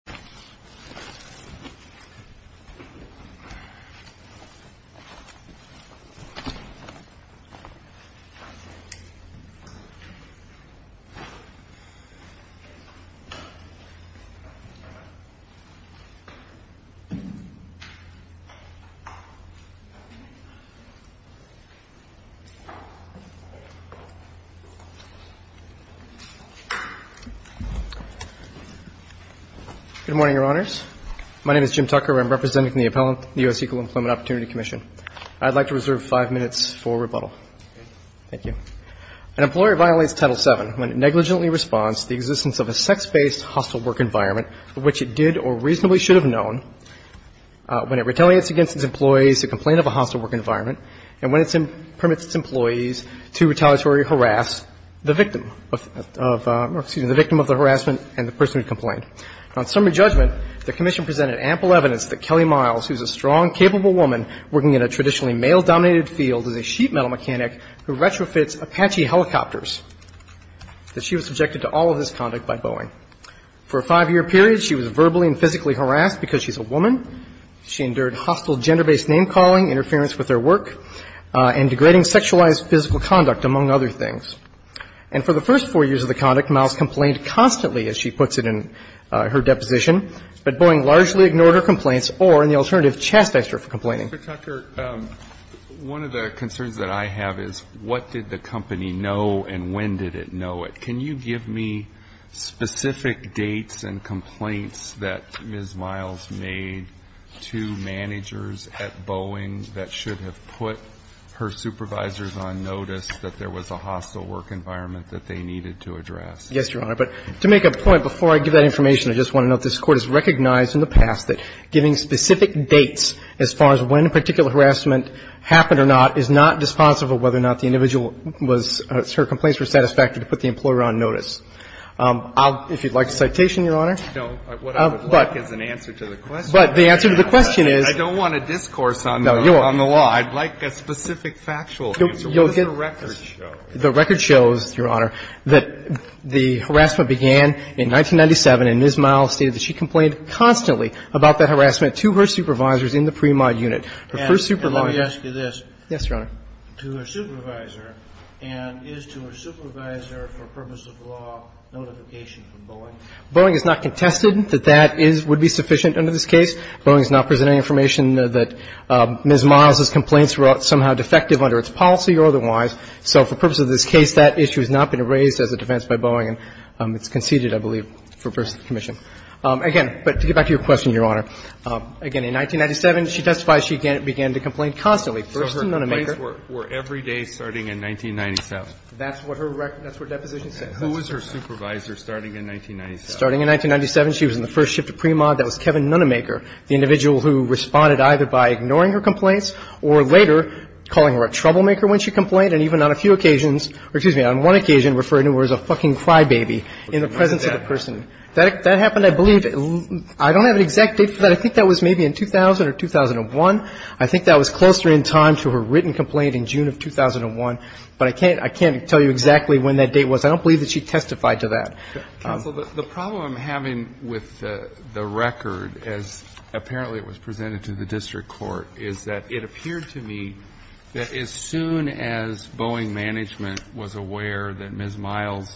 Boeing 777-8 Dreamliner KLM PH-BFG from Chicago to Amsterdam on flight KL868 on 20-11-2017. Good morning, Your Honors. My name is Jim Tucker. I'm representing the U.S. Equal Employment Opportunity Commission. I'd like to reserve five minutes for rebuttal. Thank you. An employer violates Title VII when it negligently responds to the existence of a sex-based hostile work environment, which it did or reasonably should have known, when it retaliates against its employees to complain of a hostile work environment, and when it permits its employees to retaliatory harass the victim of the harassment and the person who complained. On summary judgment, the Commission presented ample evidence that Kelly Miles, who's a strong, capable woman working in a traditionally male-dominated field, is a sheet metal mechanic who retrofits Apache helicopters, that she was subjected to all of this conduct by Boeing. For a five-year period, she was verbally and physically harassed because she's a woman. She endured hostile gender-based name-calling, interference with her work, and degrading sexualized physical conduct, among other things. And for the first four years of the conduct, Miles complained constantly, as she puts it in her deposition, but Boeing largely ignored her complaints or, in the alternative, chastised her for complaining. Mr. Tucker, one of the concerns that I have is what did the company know and when did it know it? Can you give me specific dates and complaints that Ms. Miles made to managers at Boeing that should have put her supervisors on notice that there was a hostile work environment that they needed to address? Yes, Your Honor. But to make a point, before I give that information, I just want to note this Court has recognized in the past that giving specific dates as far as when a particular harassment happened or not is not responsible whether or not the individual was or her complaints were satisfactory to put the employer on notice. If you'd like a citation, Your Honor. No. What I would like is an answer to the question. But the answer to the question is no. I don't want a discourse on the law. I'd like a specific factual answer. What does the record show? The record shows, Your Honor, that the harassment began in 1997, and Ms. Miles stated that she complained constantly about that harassment to her supervisors in the pre-mod unit. Her first supervisor. And let me ask you this. Yes, Your Honor. To her supervisor, and is to her supervisor, for purpose of law, notification from Boeing? Boeing has not contested that that would be sufficient under this case. Boeing has not presented any information that Ms. Miles' complaints were somehow defective under its policy or otherwise. So for purpose of this case, that issue has not been raised as a defense by Boeing, and it's conceded, I believe, for purpose of the commission. Again, but to get back to your question, Your Honor, again, in 1997, she testifies she began to complain constantly. First in Nunnemaker. So her complaints were every day starting in 1997? That's what her record, that's what deposition says. Who was her supervisor starting in 1997? Starting in 1997, she was in the first shift of pre-mod. That was Kevin Nunnemaker, the individual who responded either by ignoring her complaints or later calling her a troublemaker when she complained, and even on a few occasions or, excuse me, on one occasion referred to her as a fucking crybaby in the presence of a person. That happened, I believe, I don't have an exact date for that. I think that was maybe in 2000 or 2001. I think that was closer in time to her written complaint in June of 2001, but I can't tell you exactly when that date was. I don't believe that she testified to that. Counsel, the problem I'm having with the record, as apparently it was presented to the district court, is that it appeared to me that as soon as Boeing Management was aware that Ms. Miles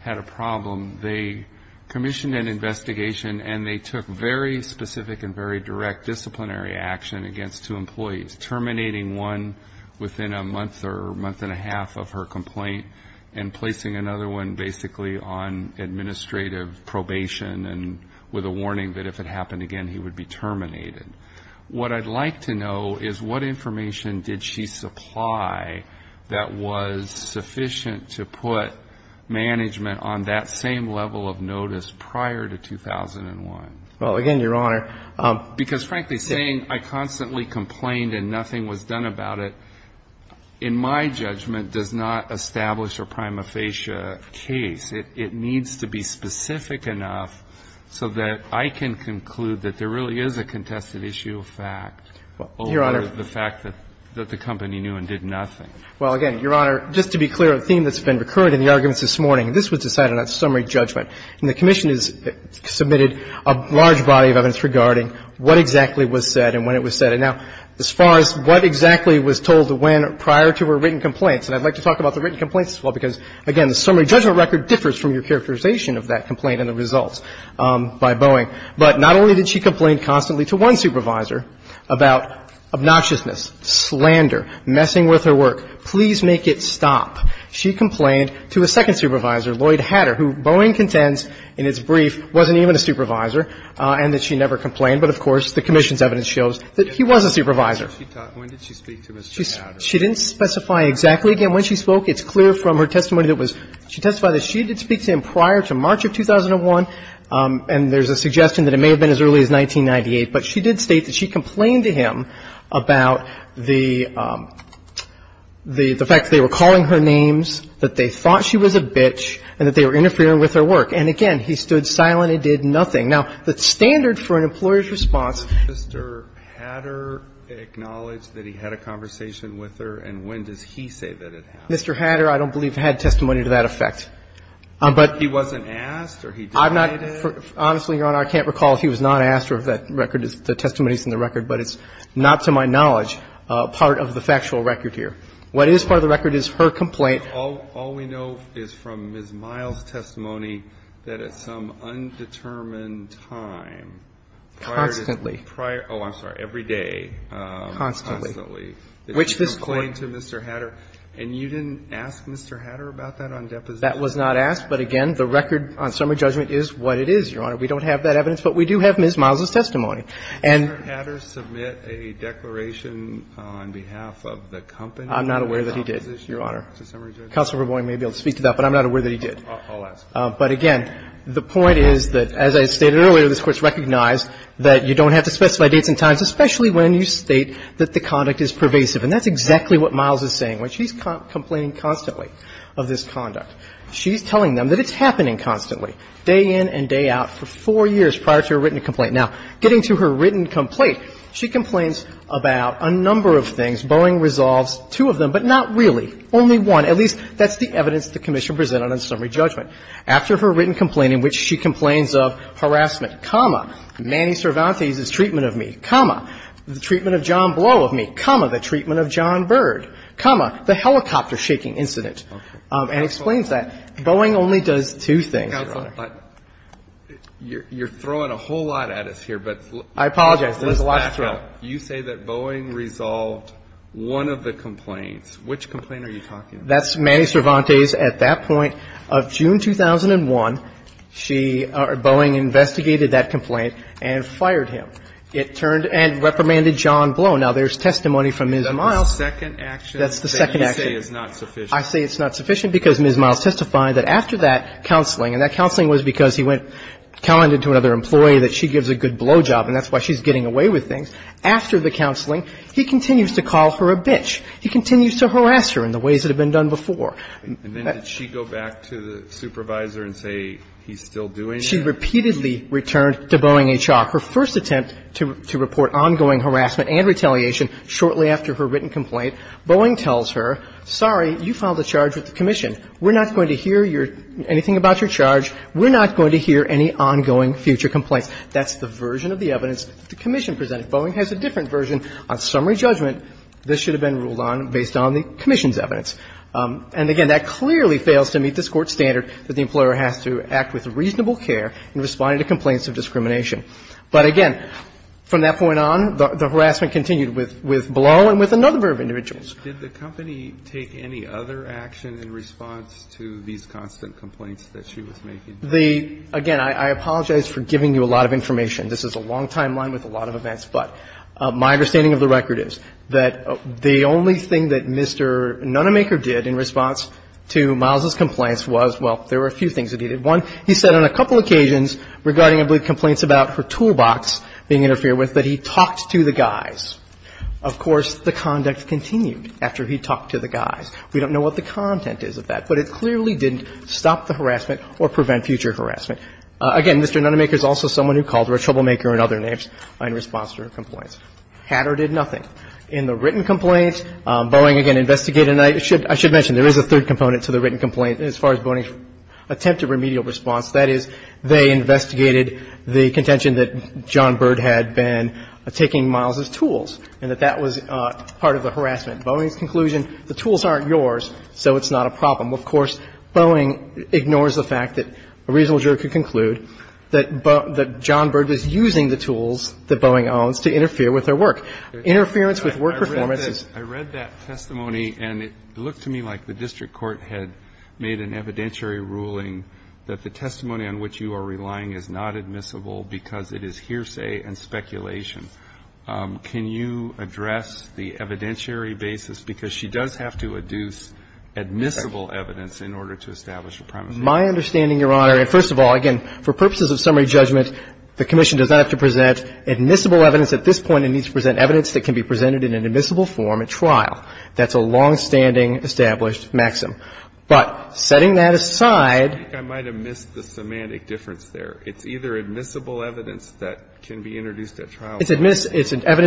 had a problem, they commissioned an investigation and they took very specific and very direct disciplinary action against two employees, terminating one within a month or month and a half of her complaint and placing another one basically on administrative probation and with a warning that if it happened again, he would be terminated. What I'd like to know is what information did she supply that was sufficient to put management on that same level of notice prior to 2001? Well, again, Your Honor. Because, frankly, saying I constantly complained and nothing was done about it, in my judgment, does not establish a prima facie case. It needs to be specific enough so that I can conclude that there really is a contested issue of fact over the fact that the company knew and did nothing. Well, again, Your Honor, just to be clear, a theme that's been recurrent in the arguments this morning, and this was decided on summary judgment, and the commission has submitted a large body of evidence regarding what exactly was said and when it was said. Now, as far as what exactly was told when prior to her written complaints, and I'd like to talk about the written complaints as well because, again, the summary judgment record differs from your characterization of that complaint and the results by Boeing. But not only did she complain constantly to one supervisor about obnoxiousness, slander, messing with her work, please make it stop. She complained to a second supervisor, Lloyd Hatter, who Boeing contends in its brief wasn't even a supervisor and that she never complained. But, of course, the commission's evidence shows that he was a supervisor. When did she speak to Mr. Hatter? She didn't specify exactly again when she spoke. It's clear from her testimony that she testified that she did speak to him prior to March of 2001, and there's a suggestion that it may have been as early as 1998. But she did state that she complained to him about the fact that they were calling her names, that they thought she was a bitch, and that they were interfering with her work. And, again, he stood silent and did nothing. Now, the standard for an employer's response. Mr. Hatter acknowledged that he had a conversation with her, and when does he say that it happened? Mr. Hatter, I don't believe, had testimony to that effect. But he wasn't asked or he denied it? I'm not – honestly, Your Honor, I can't recall if he was not asked or if that record is – the testimony is in the record. But it's not, to my knowledge, part of the factual record here. What is part of the record is her complaint. All we know is from Ms. Miles' testimony that at some undetermined time, prior to the prior – oh, I'm sorry, every day, constantly, that she complained to Mr. Hatter. And you didn't ask Mr. Hatter about that on deposition? That was not asked. But, again, the record on summary judgment is what it is, Your Honor. We don't have that evidence, but we do have Ms. Miles' testimony. Did Mr. Hatter submit a declaration on behalf of the company? I'm not aware that he did, Your Honor. Summary judgment? Counsel for Boeing may be able to speak to that, but I'm not aware that he did. I'll ask. But, again, the point is that, as I stated earlier, this Court has recognized that you don't have to specify dates and times, especially when you state that the conduct is pervasive. And that's exactly what Miles is saying. When she's complaining constantly of this conduct, she's telling them that it's happening constantly, day in and day out, for four years prior to her written complaint. Now, getting to her written complaint, she complains about a number of things. Boeing resolves two of them, but not really, only one. At least, that's the evidence the Commission presented on summary judgment. After her written complaint, in which she complains of harassment, comma, Manny Cervantes' treatment of me, comma, the treatment of John Blow of me, comma, the treatment of John Byrd, comma, the helicopter shaking incident, and explains that, Boeing only does two things, Your Honor. Counsel, you're throwing a whole lot at us here, but let's back up. I apologize. There's a lot to throw. You say that Boeing resolved one of the complaints. Which complaint are you talking about? That's Manny Cervantes at that point. Of June 2001, she or Boeing investigated that complaint and fired him. It turned and reprimanded John Blow. Now, there's testimony from Ms. Miles. That's the second action that you say is not sufficient. I say it's not sufficient because Ms. Miles testified that after that counseling and that counseling was because he went telling another employee that she gives a good job, after the counseling, he continues to call her a bitch. He continues to harass her in the ways that have been done before. And then did she go back to the supervisor and say he's still doing it? She repeatedly returned to Boeing H.R. Her first attempt to report ongoing harassment and retaliation shortly after her written complaint, Boeing tells her, sorry, you filed a charge with the commission. We're not going to hear anything about your charge. We're not going to hear any ongoing future complaints. That's the version of the evidence the commission presented. Boeing has a different version on summary judgment. This should have been ruled on based on the commission's evidence. And again, that clearly fails to meet this Court's standard that the employer has to act with reasonable care in responding to complaints of discrimination. But again, from that point on, the harassment continued with Blow and with another group of individuals. Did the company take any other action in response to these constant complaints that she was making? The – again, I apologize for giving you a lot of information. This is a long timeline with a lot of events. But my understanding of the record is that the only thing that Mr. Nunnemaker did in response to Miles' complaints was, well, there were a few things that he did. One, he said on a couple occasions regarding, I believe, complaints about her toolbox being interfered with, that he talked to the guys. Of course, the conduct continued after he talked to the guys. We don't know what the content is of that. But it clearly didn't stop the harassment or prevent future harassment. Again, Mr. Nunnemaker is also someone who called her a troublemaker and other names in response to her complaints. Had or did nothing. In the written complaint, Boeing, again, investigated. And I should mention, there is a third component to the written complaint as far as Boeing's attempt at remedial response. That is, they investigated the contention that John Byrd had been taking Miles' tools and that that was part of the harassment. Boeing's conclusion, the tools aren't yours, so it's not a problem. Of course, Boeing ignores the fact that a reasonable juror could conclude that John Byrd is using the tools that Boeing owns to interfere with their work. Interference with work performance is. I read that testimony and it looked to me like the district court had made an evidentiary ruling that the testimony on which you are relying is not admissible because it is hearsay and speculation. Can you address the evidentiary basis? Because she does have to adduce admissible evidence in order to establish a premise. My understanding, Your Honor, and first of all, again, for purposes of summary judgment, the commission does not have to present admissible evidence at this point. It needs to present evidence that can be presented in an admissible form at trial. That's a longstanding established maxim. But setting that aside. I think I might have missed the semantic difference there. It's either admissible evidence that can be introduced at trial. It's evidence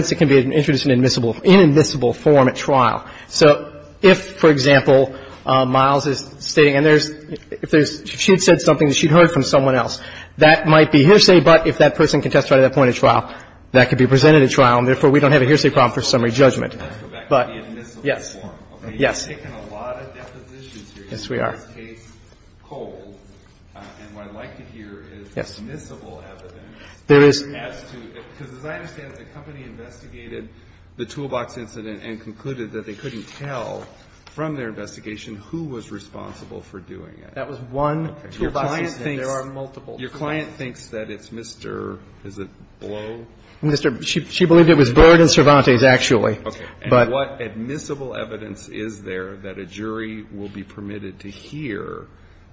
that can be introduced in admissible, inadmissible form at trial. So if, for example, Miles is stating, and there's, if there's, she had said something that she'd heard from someone else, that might be hearsay, but if that person contested at that point of trial, that could be presented at trial, and therefore we don't have a hearsay problem for summary judgment. But, yes. Yes. Yes, we are. And what I'd like to hear is admissible evidence. There is. Because as I understand it, the company investigated the toolbox incident and concluded that they couldn't tell from their investigation who was responsible for doing it. That was one toolbox incident. There are multiple. Your client thinks that it's Mr. Is it Blow? She believed it was Bird and Cervantes, actually. Okay. And what admissible evidence is there that a jury will be permitted to hear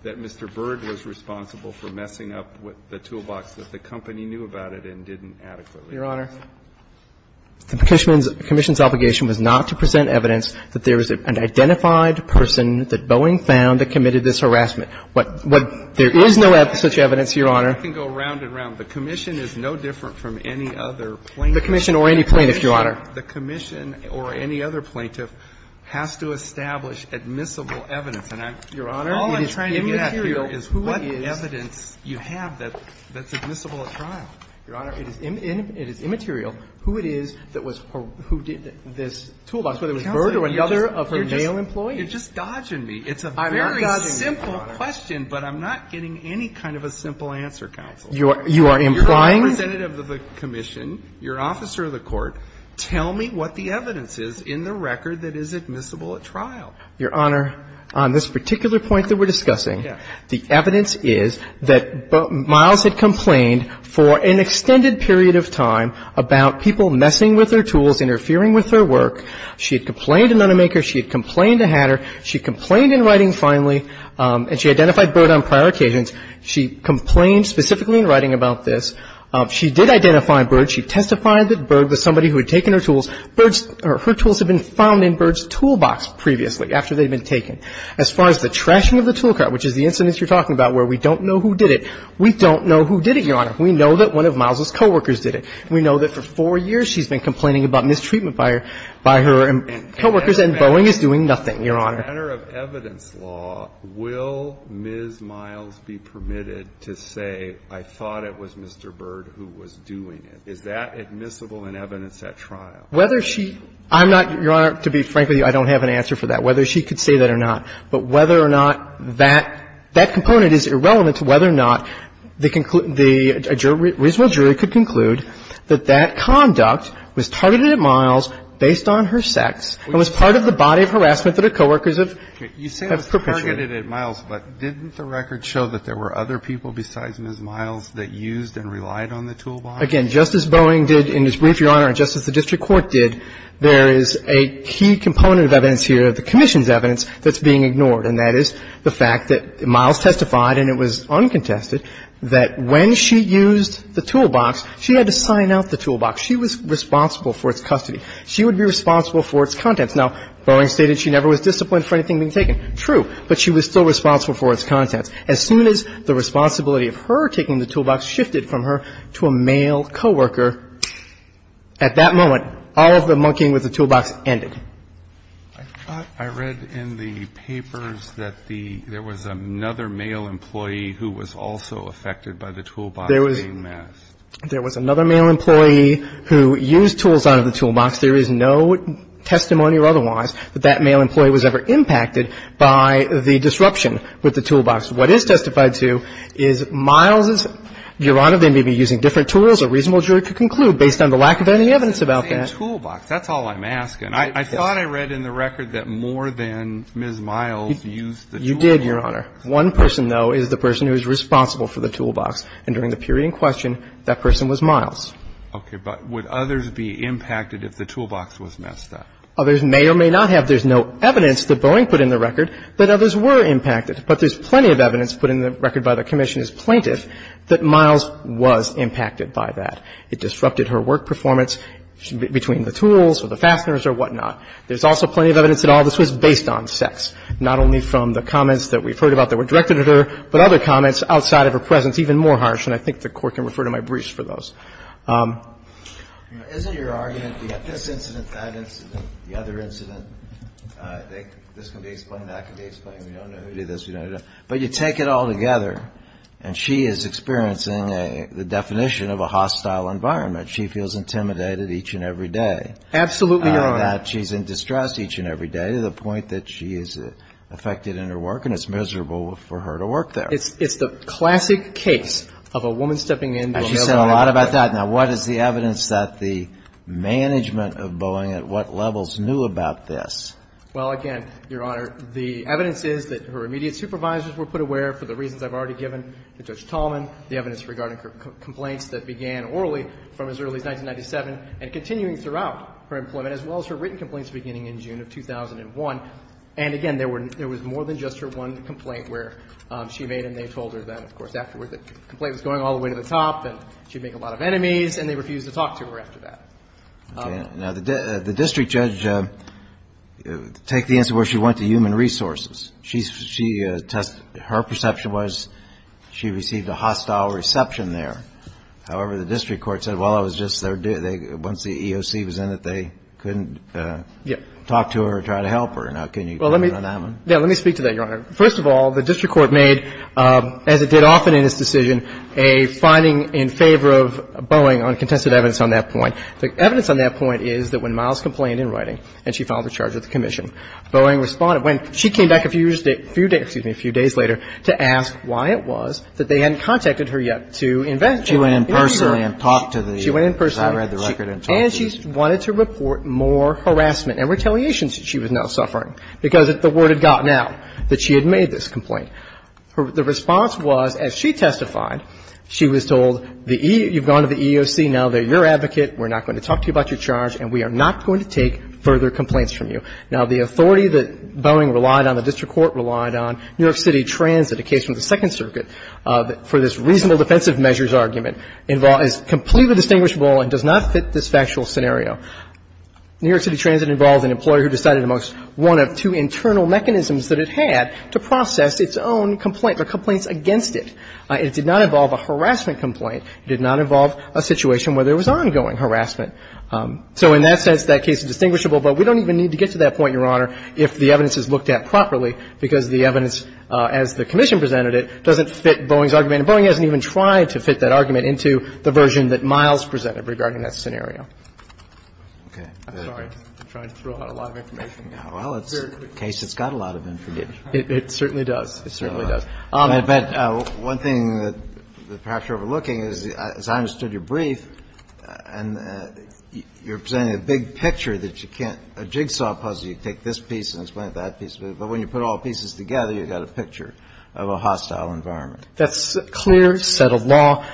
that Mr. Bird was responsible for messing up the toolbox, that the company knew about it and didn't adequately? Your Honor, the commission's obligation was not to present evidence that there was an identified person that Boeing found that committed this harassment. There is no such evidence, Your Honor. I can go round and round. The commission is no different from any other plaintiff. The commission or any plaintiff, Your Honor. The commission or any other plaintiff has to establish admissible evidence. And I'm, Your Honor, it is immaterial who it is. All I'm trying to get at here is what evidence you have that's admissible at trial. Your Honor, it is immaterial who it is that was or who did this toolbox, whether it was Bird or any other of her male employees. It's just dodging me. It's a very simple question. I'm not dodging you, Your Honor. But I'm not getting any kind of a simple answer, counsel. You are implying? Representative of the commission, you're an officer of the court. Tell me what the evidence is in the record that is admissible at trial. Your Honor, on this particular point that we're discussing, the evidence is that Miles had complained for an extended period of time about people messing with her tools, interfering with her work. She had complained to Nonemaker. She had complained to Hatter. She complained in writing finally, and she identified Bird on prior occasions. She complained specifically in writing about this. She did identify Bird. She testified that Bird was somebody who had taken her tools. Her tools had been found in Bird's toolbox previously after they had been taken. As far as the trashing of the tool cart, which is the incident you're talking about where we don't know who did it, we don't know who did it, Your Honor. We know that one of Miles's coworkers did it. We know that for four years she's been complaining about mistreatment by her coworkers and Boeing is doing nothing, Your Honor. In the matter of evidence law, will Ms. Miles be permitted to say, I thought it was Mr. Bird who was doing it? Is that admissible in evidence at trial? Whether she – I'm not – Your Honor, to be frank with you, I don't have an answer for that, whether she could say that or not. But whether or not that – that component is irrelevant to whether or not the jury could conclude that that conduct was targeted at Miles based on her sex and was part of the body of harassment that her coworkers have perpetrated. Okay. You say it was targeted at Miles, but didn't the record show that there were other people besides Ms. Miles that used and relied on the toolbox? Again, just as Boeing did in this brief, Your Honor, and just as the district court did, there is a key component of evidence here, the commission's evidence, that's being ignored, and that is the fact that Miles testified, and it was uncontested, that when she used the toolbox, she had to sign out the toolbox. She was responsible for its custody. She would be responsible for its contents. Now, Boeing stated she never was disciplined for anything being taken. True. But she was still responsible for its contents. As soon as the responsibility of her taking the toolbox shifted from her to a male coworker, at that moment, all of the monkeying with the toolbox ended. I thought I read in the papers that the – there was another male employee who was also affected by the toolbox being missed. There was another male employee who used tools out of the toolbox. There is no testimony or otherwise that that male employee was ever impacted by the disruption with the toolbox. What is testified to is Miles' – Your Honor, they may be using different tools. A reasonable jury could conclude based on the lack of any evidence about that. It's the same toolbox. That's all I'm asking. I thought I read in the record that more than Ms. Miles used the toolbox. You did, Your Honor. One person, though, is the person who is responsible for the toolbox. And during the period in question, that person was Miles. Okay. But would others be impacted if the toolbox was messed up? Others may or may not have. There's no evidence that Boeing put in the record that others were impacted. But there's plenty of evidence put in the record by the commission as plaintiff that Miles was impacted by that. It disrupted her work performance between the tools or the fasteners or whatnot. There's also plenty of evidence that all of this was based on sex, not only from the comments that we've heard about that were directed at her, but other comments outside of her presence even more harsh. And I think the Court can refer to my briefs for those. Isn't your argument that this incident, that incident, the other incident, this can be explained, that can be explained. We don't know who did this. We don't know. But you take it all together, and she is experiencing the definition of a hostile environment. She feels intimidated each and every day. Absolutely, Your Honor. That she's in distress each and every day to the point that she is affected in her work, and it's miserable for her to work there. It's the classic case of a woman stepping in. And she said a lot about that. Now, what is the evidence that the management of Boeing at what levels knew about this? Well, again, Your Honor, the evidence is that her immediate supervisors were put aware, for the reasons I've already given to Judge Tallman, the evidence regarding her complaints that began orally from as early as 1997 and continuing throughout her employment, as well as her written complaints beginning in June of 2001. And, again, there was more than just her one complaint where she made and they told her that, of course, afterwards the complaint was going all the way to the top, and she'd make a lot of enemies, and they refused to talk to her after that. Okay. Now, the district judge, take the answer where she went to human resources. She tested her perception was she received a hostile reception there. However, the district court said, well, it was just once the EOC was in it, they couldn't talk to her or try to help her. Now, can you comment on that one? Well, let me speak to that, Your Honor. First of all, the district court made, as it did often in this decision, a finding in favor of Boeing on contested evidence on that point. The evidence on that point is that when Miles complained in writing and she filed a charge with the commission, Boeing responded. When she came back a few days later to ask why it was that they hadn't contacted her yet to investigate. She went in personally and talked to the judge. She went in personally. I read the record and talked to the judge. And she wanted to report more harassment and retaliation since she was now suffering because the word had gotten out that she had made this complaint. The response was, as she testified, she was told, you've gone to the EOC now. They're your advocate. We're not going to talk to you about your charge and we are not going to take further complaints from you. Now, the authority that Boeing relied on, the district court relied on, New York City Transit, a case from the Second Circuit, for this reasonable defensive measures argument, is completely distinguishable and does not fit this factual scenario. New York City Transit involves an employer who decided amongst one of two internal mechanisms that it had to process its own complaint or complaints against it. It did not involve a harassment complaint. It did not involve a situation where there was ongoing harassment. So in that sense, that case is distinguishable, but we don't even need to get to that point, Your Honor, if the evidence is looked at properly, because the evidence, as the commission presented it, doesn't fit Boeing's argument. And Boeing hasn't even tried to fit that argument into the version that Miles presented regarding that scenario. I'm sorry. I'm trying to throw out a lot of information. Well, it's a case that's got a lot of information. It certainly does. It certainly does. But one thing that perhaps you're overlooking is, as I understood your brief, and you're presenting a big picture that you can't – a jigsaw puzzle, you take this piece and explain it to that piece. But when you put all the pieces together, you've got a picture of a hostile environment. That's clear, set of law.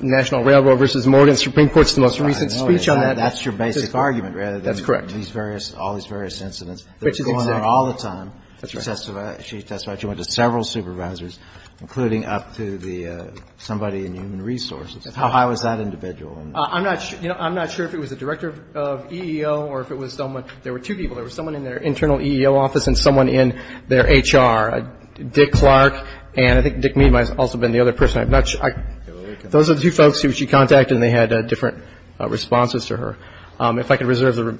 National Railroad v. Morgan Supreme Court's most recent speech on that. I know. That's your basic argument rather than these various – all these various incidents. That's correct. Which is going on all the time. That's right. That's why she went to several supervisors, including up to the – somebody in human resources. How high was that individual? I'm not – you know, I'm not sure if it was the director of EEO or if it was someone – there were two people. There was someone in their internal EEO office and someone in their HR. Dick Clark and I think Dick Mead might have also been the other person. I'm not sure. Those are the two folks who she contacted and they had different responses to her. If I could reserve the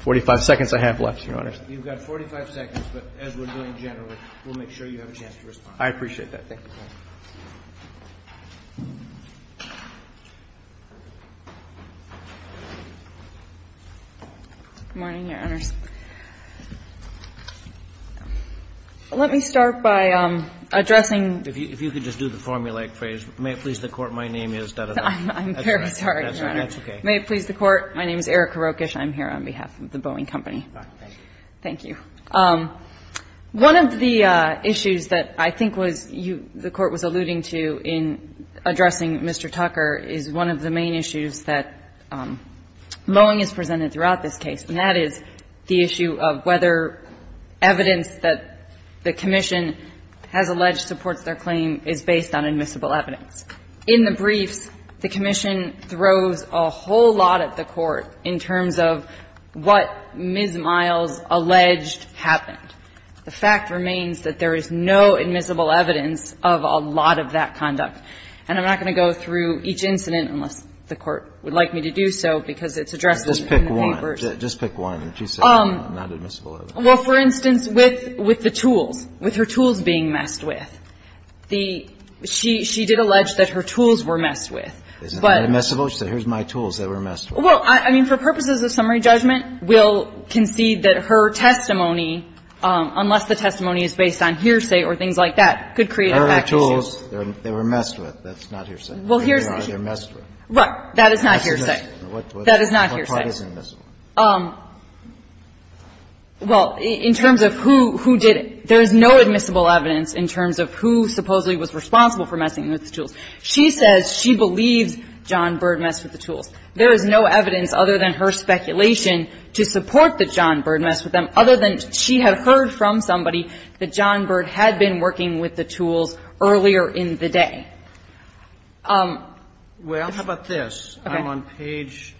45 seconds I have left, Your Honors. You've got 45 seconds, but as we're doing generally, we'll make sure you have a chance to respond. I appreciate that. Thank you. Good morning, Your Honors. Let me start by addressing – If you could just do the formulaic phrase, may it please the Court, my name is. I'm very sorry, Your Honor. That's okay. May it please the Court, my name is Erica Rokish. I'm here on behalf of the Boeing Company. Thank you. One of the issues that I think was you – the Court was alluding to in addressing Mr. Tucker is one of the main issues that Boeing has presented throughout this case, and that is the issue of whether evidence that the commission has alleged supports their claim is based on admissible evidence. In the briefs, the commission throws a whole lot at the Court in terms of what Ms. Miles alleged happened. The fact remains that there is no admissible evidence of a lot of that conduct. And I'm not going to go through each incident unless the Court would like me to do so because it's addressed in the papers. Just pick one. Just pick one that you say is not admissible evidence. Well, for instance, with the tools, with her tools being messed with, the – she did allege that her tools were messed with, but – They're not admissible? She said, here's my tools that were messed with. Well, I mean, for purposes of summary judgment, we'll concede that her testimony, unless the testimony is based on hearsay or things like that, could create a fact issue. Her tools, they were messed with. That's not hearsay. Well, here's the issue. They are. They're messed with. That is not hearsay. That is not hearsay. What part isn't admissible? Well, in terms of who did it, there is no admissible evidence in terms of who supposedly was responsible for messing with the tools. She says she believes John Bird messed with the tools. There is no evidence other than her speculation to support that John Bird messed with them other than she had heard from somebody that John Bird had been working with the tools earlier in the day. Well, how about this? Okay. I'm on page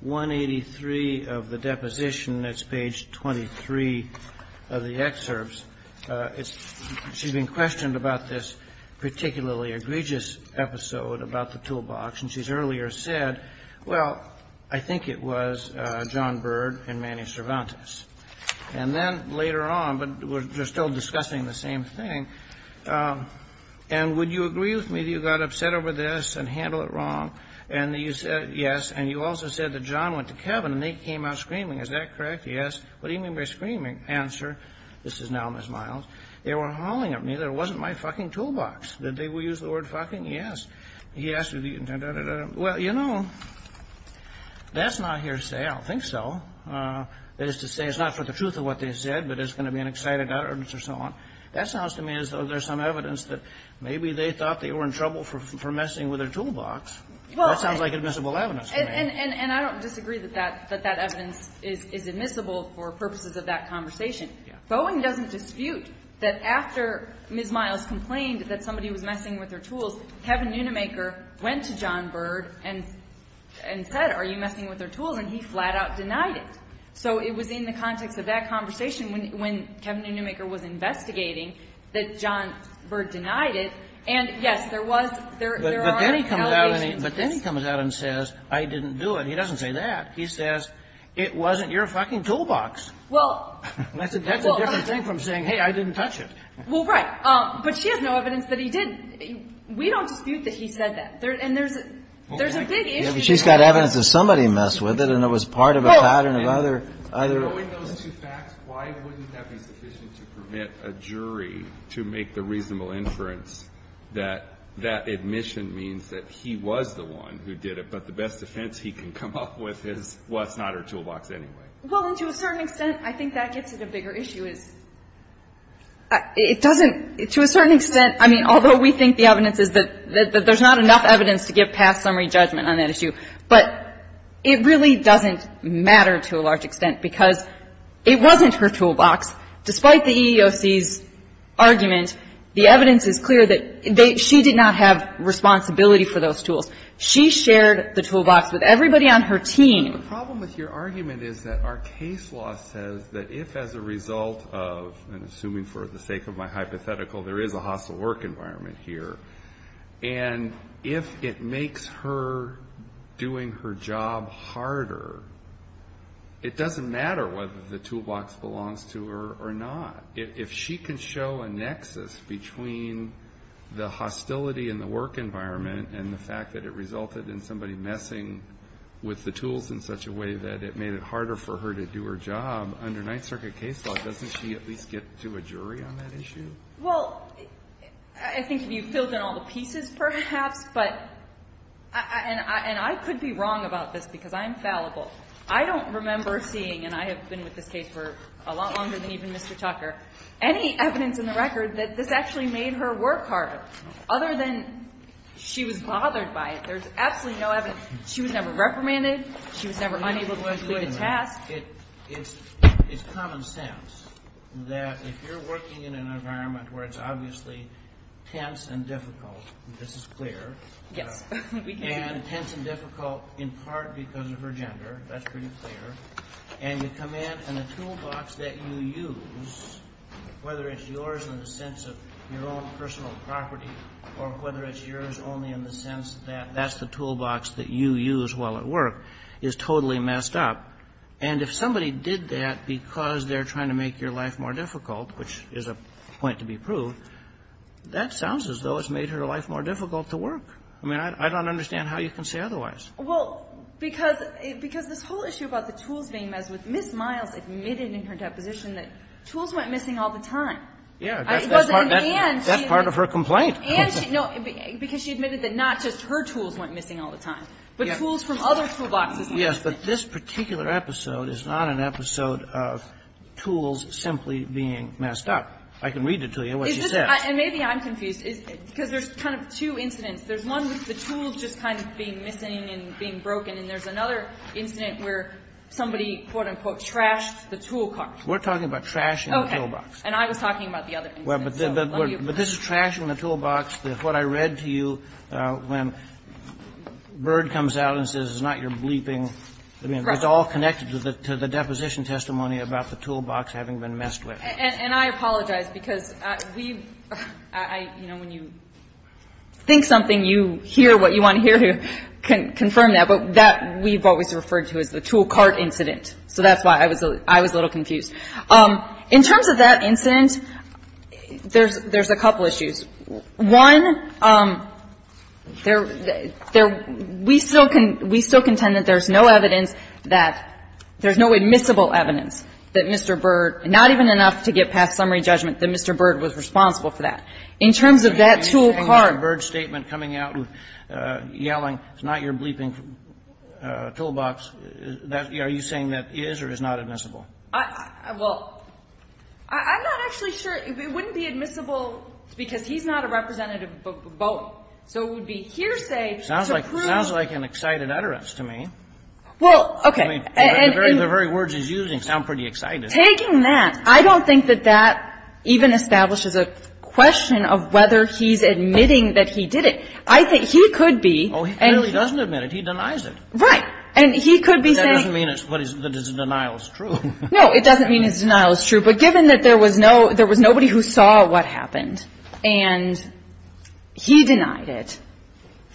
183 of the deposition. That's page 23 of the excerpts. She's been questioned about this particularly egregious episode about the toolbox, and she's earlier said, well, I think it was John Bird and Manny Cervantes. And then later on, but we're still discussing the same thing, and would you agree with me that you got upset over this and handled it wrong? And you said yes. And you also said that John went to Kevin and they came out screaming. Is that correct? Yes. What do you mean by screaming? Answer, this is now Ms. Miles, they were hollering at me that it wasn't my fucking toolbox. Did they use the word fucking? Yes. He asked, well, you know, that's not hearsay. I don't think so. That is to say it's not for the truth of what they said, but it's going to be an excited utterance or so on. That sounds to me as though there's some evidence that maybe they thought they were in trouble for messing with their toolbox. That sounds like admissible evidence to me. And I don't disagree that that evidence is admissible for purposes of that conversation. Boeing doesn't dispute that after Ms. Miles complained that somebody was messing with their tools, Kevin Neunemaker went to John Bird and said, are you messing with their tools? And he flat out denied it. So it was in the context of that conversation when Kevin Neunemaker was investigating that John Bird denied it. And, yes, there was, there are allegations. But then he comes out and says, I didn't do it. He doesn't say that. He says, it wasn't your fucking toolbox. Well. That's a different thing from saying, hey, I didn't touch it. Well, right. But she has no evidence that he did. We don't dispute that he said that. And there's a big issue there. She's got evidence that somebody messed with it and it was part of a pattern of other, other. Well, in those two facts, why wouldn't that be sufficient to permit a jury to make the reasonable inference that that admission means that he was the one who did it, but the best defense he can come up with is, well, it's not her toolbox anyway? Well, and to a certain extent, I think that gets at a bigger issue, is it doesn't to a certain extent. I mean, although we think the evidence is that there's not enough evidence to give a past summary judgment on that issue, but it really doesn't matter to a large extent, because it wasn't her toolbox. Despite the EEOC's argument, the evidence is clear that they, she did not have responsibility for those tools. She shared the toolbox with everybody on her team. The problem with your argument is that our case law says that if as a result of, and assuming for the sake of my hypothetical, there is a hostile work environment here, and if it makes her doing her job harder, it doesn't matter whether the toolbox belongs to her or not. If she can show a nexus between the hostility in the work environment and the fact that it resulted in somebody messing with the tools in such a way that it made it harder for her to do her job, under Ninth Circuit case law, doesn't she at least get to a jury on that issue? Well, I think you've filled in all the pieces perhaps, but, and I could be wrong about this because I'm fallible. I don't remember seeing, and I have been with this case for a lot longer than even Mr. Tucker, any evidence in the record that this actually made her work harder, other than she was bothered by it. There's absolutely no evidence. She was never reprimanded. She was never unable to complete a task. It's common sense that if you're working in an environment where it's obviously tense and difficult, this is clear. Yes. And tense and difficult in part because of her gender. That's pretty clear. And you come in, and the toolbox that you use, whether it's yours in the sense of your own personal property or whether it's yours only in the sense that that's the And if somebody did that because they're trying to make your life more difficult, which is a point to be proved, that sounds as though it's made her life more difficult to work. I mean, I don't understand how you can say otherwise. Well, because this whole issue about the tools being messed with, Ms. Miles admitted in her deposition that tools went missing all the time. Yeah. It wasn't an and. That's part of her complaint. And she, no, because she admitted that not just her tools went missing all the time, but tools from other toolboxes went missing. Well, yes, but this particular episode is not an episode of tools simply being messed up. I can read it to you, what she says. And maybe I'm confused, because there's kind of two incidents. There's one with the tools just kind of being missing and being broken, and there's another incident where somebody, quote, unquote, trashed the tool cart. We're talking about trashing the toolbox. Okay. And I was talking about the other incident. But this is trashing the toolbox. What I read to you when Byrd comes out and says, it's not your bleeping. I mean, it's all connected to the deposition testimony about the toolbox having been messed with. And I apologize, because we, you know, when you think something, you hear what you want to hear, you confirm that. But that we've always referred to as the tool cart incident. So that's why I was a little confused. In terms of that incident, there's a couple issues. One, there we still contend that there's no evidence that there's no admissible evidence that Mr. Byrd, not even enough to get past summary judgment, that Mr. Byrd was responsible for that. In terms of that tool cart. Kennedy, you're saying that Byrd's statement coming out yelling, it's not your bleeping toolbox, are you saying that is or is not admissible? Well, I'm not actually sure. It wouldn't be admissible because he's not a representative vote. So it would be hearsay to prove. Sounds like an excited utterance to me. Well, okay. The very words he's using sound pretty excited. Taking that, I don't think that that even establishes a question of whether he's admitting that he did it. I think he could be. Oh, he clearly doesn't admit it. He denies it. Right. And he could be saying. It doesn't mean that his denial is true. No, it doesn't mean his denial is true. But given that there was no, there was nobody who saw what happened and he denied it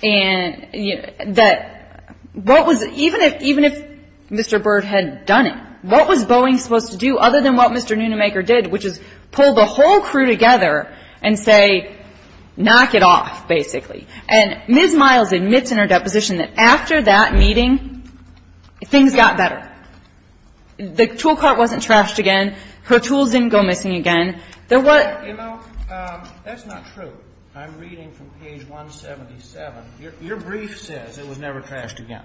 and that what was, even if, even if Mr. Byrd had done it, what was Boeing supposed to do other than what Mr. Nunemaker did, which is pull the whole crew together and say, knock it off, basically. And Ms. Miles admits in her deposition that after that meeting, things got better. The tool cart wasn't trashed again. Her tools didn't go missing again. There was. You know, that's not true. I'm reading from page 177. Your brief says it was never trashed again.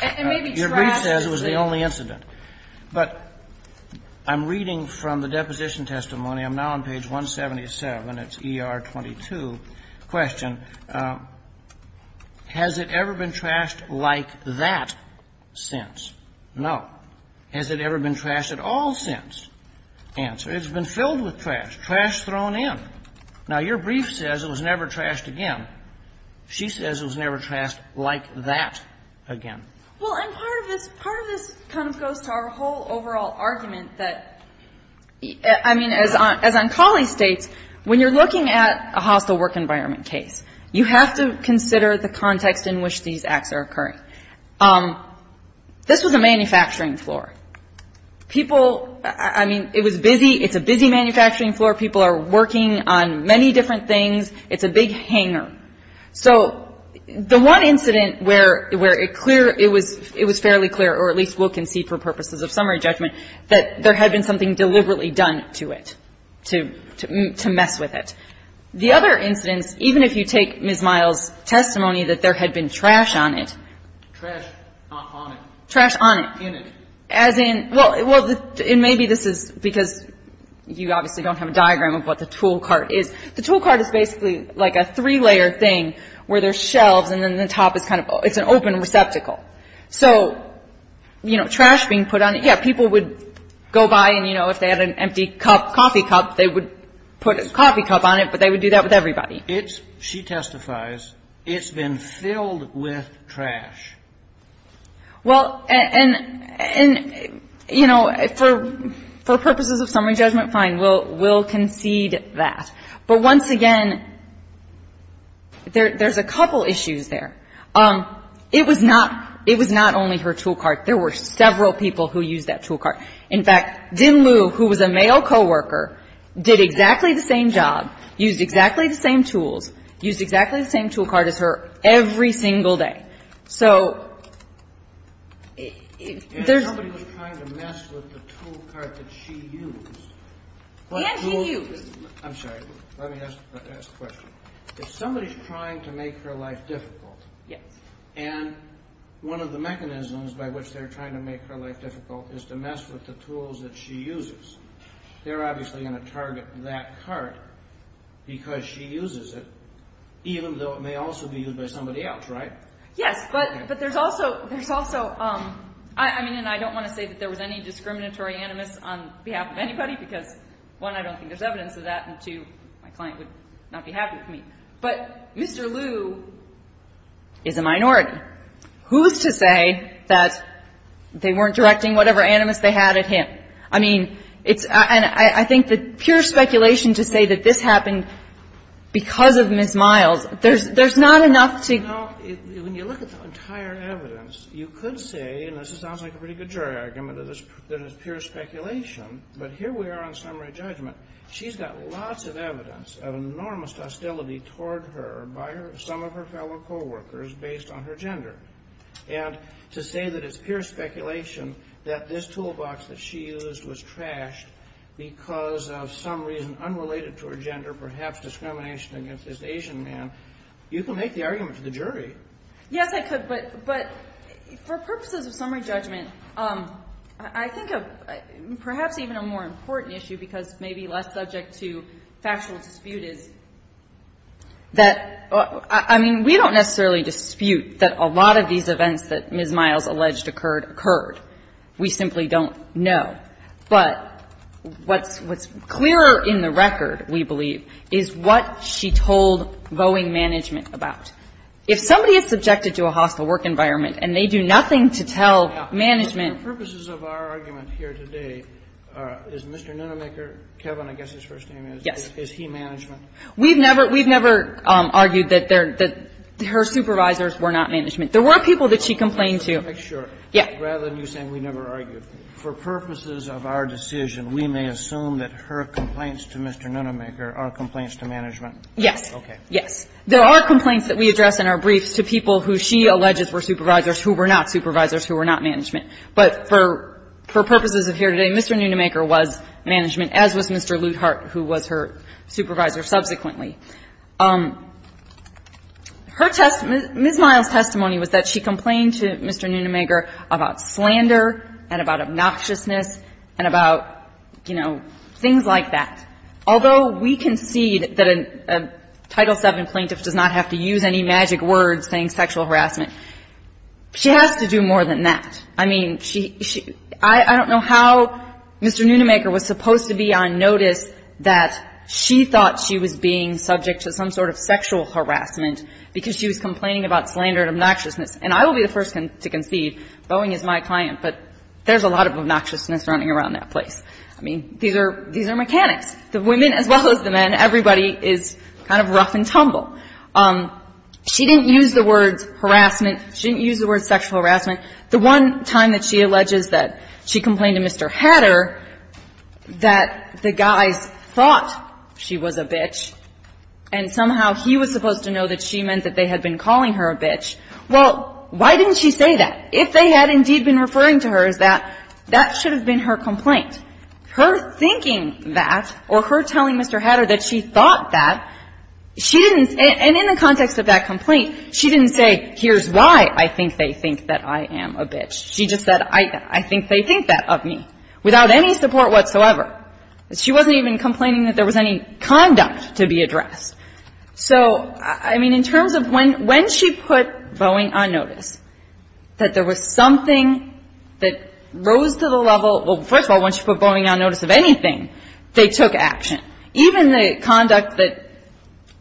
It may be trashed. Your brief says it was the only incident. But I'm reading from the deposition testimony. I'm now on page 177. It's ER 22. Question. Has it ever been trashed like that since? No. Has it ever been trashed at all since? Answer. It's been filled with trash, trash thrown in. Now, your brief says it was never trashed again. She says it was never trashed like that again. Well, and part of this, part of this kind of goes to our whole overall argument that, I mean, as Ancalli states, when you're looking at a hostile work environment case, you have to consider the context in which these acts are occurring. This was a manufacturing floor. People, I mean, it was busy. It's a busy manufacturing floor. People are working on many different things. It's a big hanger. So the one incident where it clear, it was fairly clear, or at least we'll concede for purposes of summary judgment, that there had been something deliberately done to it, to mess with it. The other incidents, even if you take Ms. Miles' testimony that there had been trash on it. Trash not on it. Trash on it. In it. As in, well, and maybe this is because you obviously don't have a diagram of what the tool cart is. The tool cart is basically like a three-layer thing where there's shelves and then the top is kind of, it's an open receptacle. So, you know, trash being put on it, yeah, people would go by and, you know, if they had an empty cup, coffee cup, they would put a coffee cup on it, but they would do that with everybody. It's, she testifies, it's been filled with trash. Well, and, you know, for purposes of summary judgment, fine, we'll concede that. But once again, there's a couple issues there. It was not, it was not only her tool cart. There were several people who used that tool cart. In fact, Din Lu, who was a male coworker, did exactly the same job, used exactly the same tools, used exactly the same tool cart as her every single day. So there's. And somebody was trying to mess with the tool cart that she used. And she used. I'm sorry. Let me ask the question. If somebody is trying to make her life difficult. Yes. And one of the mechanisms by which they're trying to make her life difficult is to mess with the tools that she uses. They're obviously going to target that cart because she uses it, even though it may also be used by somebody else, right? Yes. But there's also, there's also, I mean, and I don't want to say that there was any discriminatory animus on behalf of anybody, because, one, I don't think there's evidence of that, and, two, my client would not be happy with me. But Mr. Lu is a minority. Who's to say that they weren't directing whatever animus they had at him? I mean, it's, and I think the pure speculation to say that this happened because of Ms. Miles, there's not enough to. You know, when you look at the entire evidence, you could say, and this sounds like a pretty good jury argument, that it's pure speculation, but here we are on summary judgment. She's got lots of evidence of enormous hostility toward her by some of her fellow coworkers based on her gender. And to say that it's pure speculation that this toolbox that she used was trashed because of some reason unrelated to her gender, perhaps discrimination against this Asian man, you can make the argument to the jury. Yes, I could, but for purposes of summary judgment, I think perhaps even a more important issue, because maybe less subject to factual dispute, is that, I mean, we don't necessarily dispute that a lot of these events that Ms. Miles alleged occurred occurred. We simply don't know. But what's clearer in the record, we believe, is what she told Boeing Management about. If somebody is subjected to a hostile work environment and they do nothing to tell management Now, for purposes of our argument here today, is Mr. Nunnemaker, Kevin, I guess his first name is, is he management? We've never argued that her supervisors were not management. There were people that she complained to. Sure. Yeah. Rather than you saying we never argued. For purposes of our decision, we may assume that her complaints to Mr. Nunnemaker are complaints to management. Yes. Yes. There are complaints that we address in our briefs to people who she alleges were supervisors who were not supervisors, who were not management. But for purposes of here today, Mr. Nunnemaker was management, as was Mr. Luthart, who was her supervisor subsequently. Her testimony, Ms. Miles' testimony was that she complained to Mr. Nunnemaker about slander and about obnoxiousness and about, you know, things like that. Although we concede that a Title VII plaintiff does not have to use any magic words saying sexual harassment, she has to do more than that. I mean, she, she, I don't know how Mr. Nunnemaker was supposed to be on notice that she thought she was being subject to some sort of sexual harassment because she was complaining about slander and obnoxiousness. And I will be the first to concede, Boeing is my client, but there's a lot of obnoxiousness running around that place. I mean, these are, these are mechanics. The women as well as the men, everybody is kind of rough and tumble. She didn't use the words harassment. She didn't use the words sexual harassment. The one time that she alleges that she complained to Mr. Hatter that the guys thought she was a bitch and somehow he was supposed to know that she meant that they had been calling her a bitch, well, why didn't she say that? If they had indeed been referring to her as that, that should have been her complaint. Her thinking that or her telling Mr. Hatter that she thought that, she didn't, and in the context of that complaint, she didn't say here's why I think they think that I am a bitch. She just said I think they think that of me without any support whatsoever. She wasn't even complaining that there was any conduct to be addressed. So, I mean, in terms of when, when she put Boeing on notice that there was something that rose to the level, well, first of all, when she put Boeing on notice of anything, they took action. Even the conduct that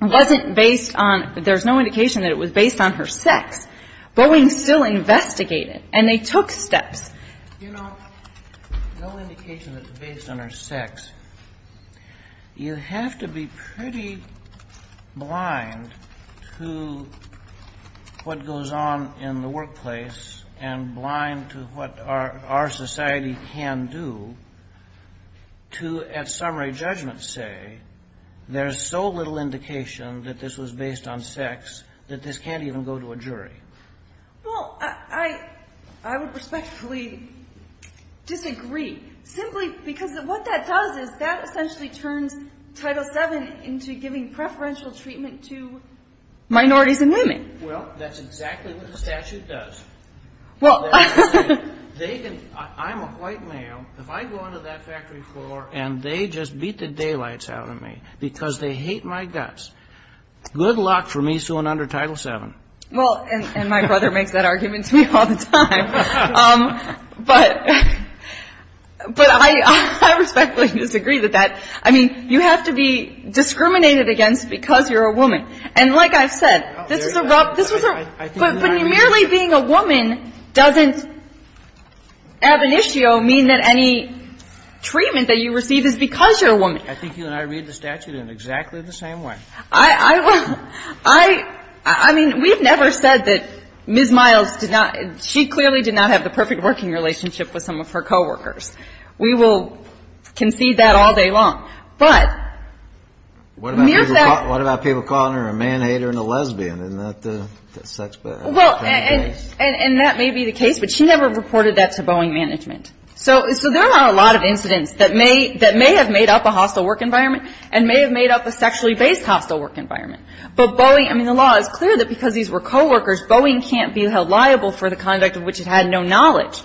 wasn't based on, there's no indication that it was based on her sex, Boeing still investigated and they took steps. You know, no indication that it's based on her sex. You have to be pretty blind to what goes on in the workplace and blind to what our society can do to, at summary judgment say, there's so little indication that this was based on sex, that this can't even go to a jury. Well, I, I would respectfully disagree, simply because what that does is that essentially turns Title VII into giving preferential treatment to minorities and women. Well, that's exactly what the statute does. I'm a white male, if I go onto that factory floor and they just beat the daylights out of me because they hate my guts, good luck for me suing under Title VII. Well, and my brother makes that argument to me all the time. But, but I, I respectfully disagree with that. I mean, you have to be discriminated against because you're a woman. And like I've said, this was a, but merely being a woman doesn't ab initio mean that any treatment is appropriate. I think you and I read the statute in exactly the same way. I, I, I, I mean, we've never said that Ms. Miles did not, she clearly did not have the perfect working relationship with some of her coworkers. We will concede that all day long. But... What about people calling her a man-hater and a lesbian? Isn't that the sex-based? Well, and that may be the case, but she never reported that to Boeing management. So there are a lot of incidents that may, that may have made up a hostile work environment and may have made up a sexually based hostile work environment. But Boeing, I mean the law is clear that because these were coworkers, Boeing can't be held liable for the conduct of which it had no knowledge.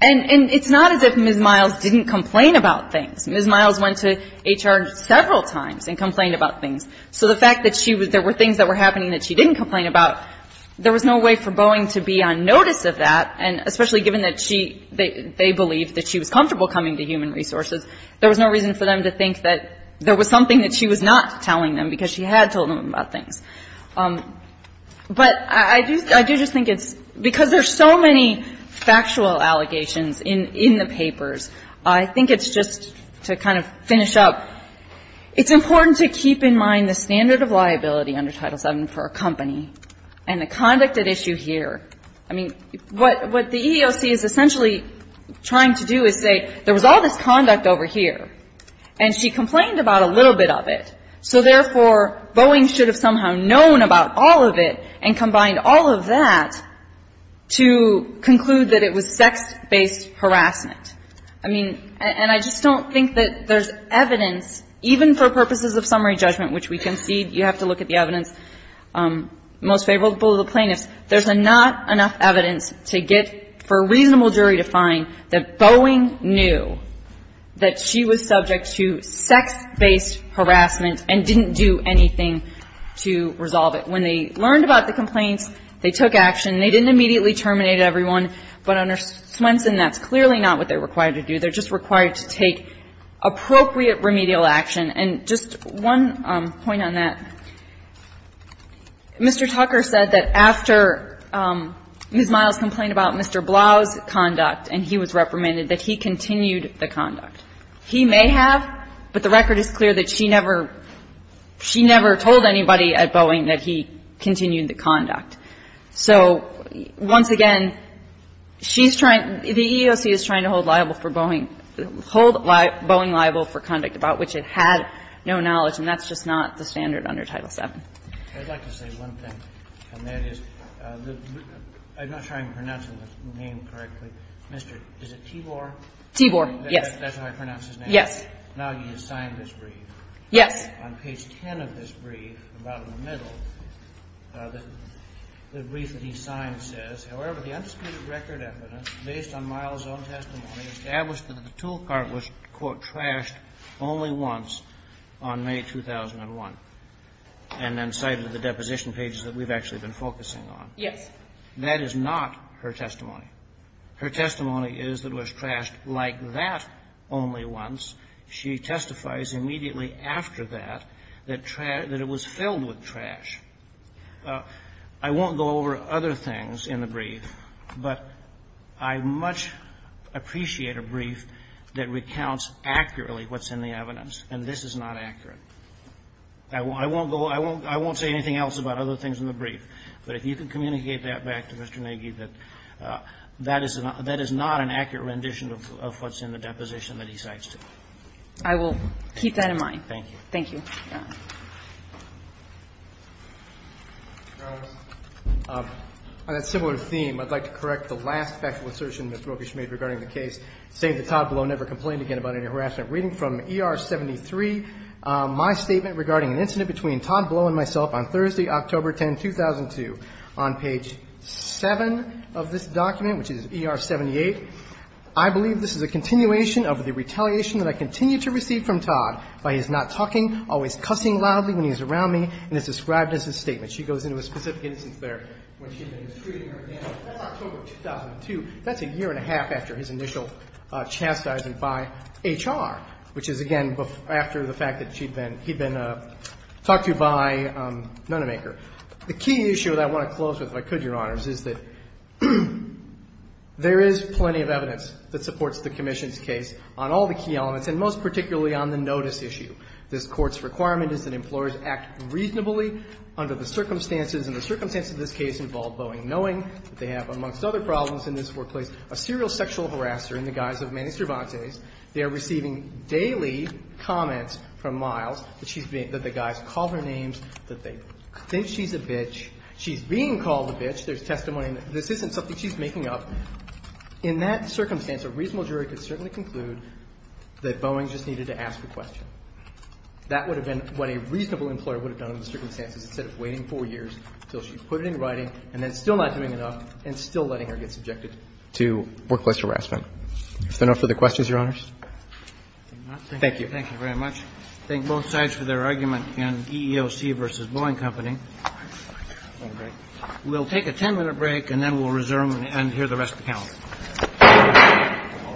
And, and it's not as if Ms. Miles didn't complain about things. Ms. Miles went to HR several times and complained about things. So the fact that she was, there were things that were happening that she didn't complain about, there was no way for Boeing to be on notice of that. And especially given that she, they believed that she was comfortable coming to human resources. There was no reason for them to think that there was something that she was not telling them because she had told them about things. But I do, I do just think it's, because there's so many factual allegations in, in the papers, I think it's just to kind of finish up. It's important to keep in mind the standard of liability under Title VII for a company and the conduct at issue here. I mean, what, what the EEOC is essentially trying to do is say there was all this conduct over here and she complained about a little bit of it. So therefore, Boeing should have somehow known about all of it and combined all of that to conclude that it was sex-based harassment. I mean, and I just don't think that there's evidence, even for purposes of summary judgment, which we concede, you have to look at the evidence, most favorable to the plaintiffs, there's not enough evidence to get, for a reasonable jury to find, that Boeing knew that she was subject to sex-based harassment and didn't do anything to resolve it. When they learned about the complaints, they took action. They didn't immediately terminate everyone. But under Swenson, that's clearly not what they're required to do. They're just required to take appropriate remedial action. And just one point on that. Mr. Tucker said that after Ms. Miles complained about Mr. Blau's conduct and he was reprimanded, that he continued the conduct. He may have, but the record is clear that she never, she never told anybody at Boeing that he continued the conduct. So once again, she's trying, the EEOC is trying to hold liable for Boeing, hold Boeing liable for conduct about which it had no knowledge. And that's just not the standard under Title VII. I'd like to say one thing, and that is, I'm not sure I'm pronouncing the name correctly. Is it Tibor? Tibor, yes. That's how I pronounce his name? Yes. Now he has signed this brief. Yes. On page 10 of this brief, about in the middle, the brief that he signed says, however, the undisputed record evidence based on Miles' own testimony established that the tool cart was, quote, trashed only once on May 2001, and then cited the deposition pages that we've actually been focusing on. Yes. That is not her testimony. Her testimony is that it was trashed like that only once. I won't go over other things in the brief, but I much appreciate a brief that recounts accurately what's in the evidence. And this is not accurate. I won't say anything else about other things in the brief. But if you can communicate that back to Mr. Nagy, that that is not an accurate rendition of what's in the deposition that he cites. I will keep that in mind. Thank you. On that similar theme, I'd like to correct the last factual assertion that Ms. Rokish made regarding the case, saying that Todd Blow never complained again about any harassment. Reading from ER 73, my statement regarding an incident between Todd Blow and myself on Thursday, October 10, 2002, on page 7 of this document, which is ER 78, I believe this is a continuation of the retaliation that I continue to receive from Todd by his not talking, always cussing loudly when he's around me, and is described as his statement. She goes into a specific instance there when she's been mistreating her again. That's October 2002. That's a year and a half after his initial chastising by HR, which is, again, after the fact that she'd been he'd been talked to by Nonemaker. The key issue that I want to close with, if I could, Your Honors, is that there is plenty of evidence that supports the Commission's case on all the key elements and most particularly on the notice issue. This Court's requirement is that employers act reasonably under the circumstances and the circumstances of this case involve Boeing, knowing that they have, amongst other problems in this workplace, a serial sexual harasser in the guise of Manny Cervantes. They are receiving daily comments from Miles that she's being – that the guys call her names, that they think she's a bitch. She's being called a bitch. There's testimony that this isn't something she's making up. In that circumstance, a reasonable jury could certainly conclude that Boeing just needed to ask a question. That would have been what a reasonable employer would have done under the circumstances instead of waiting four years until she put it in writing and then still not doing enough and still letting her get subjected to workplace harassment. Is there no further questions, Your Honors? Thank you. Thank you very much. I thank both sides for their argument in EEOC v. Boeing Company. We'll take a ten-minute break and then we'll resume and hear the rest of the panel.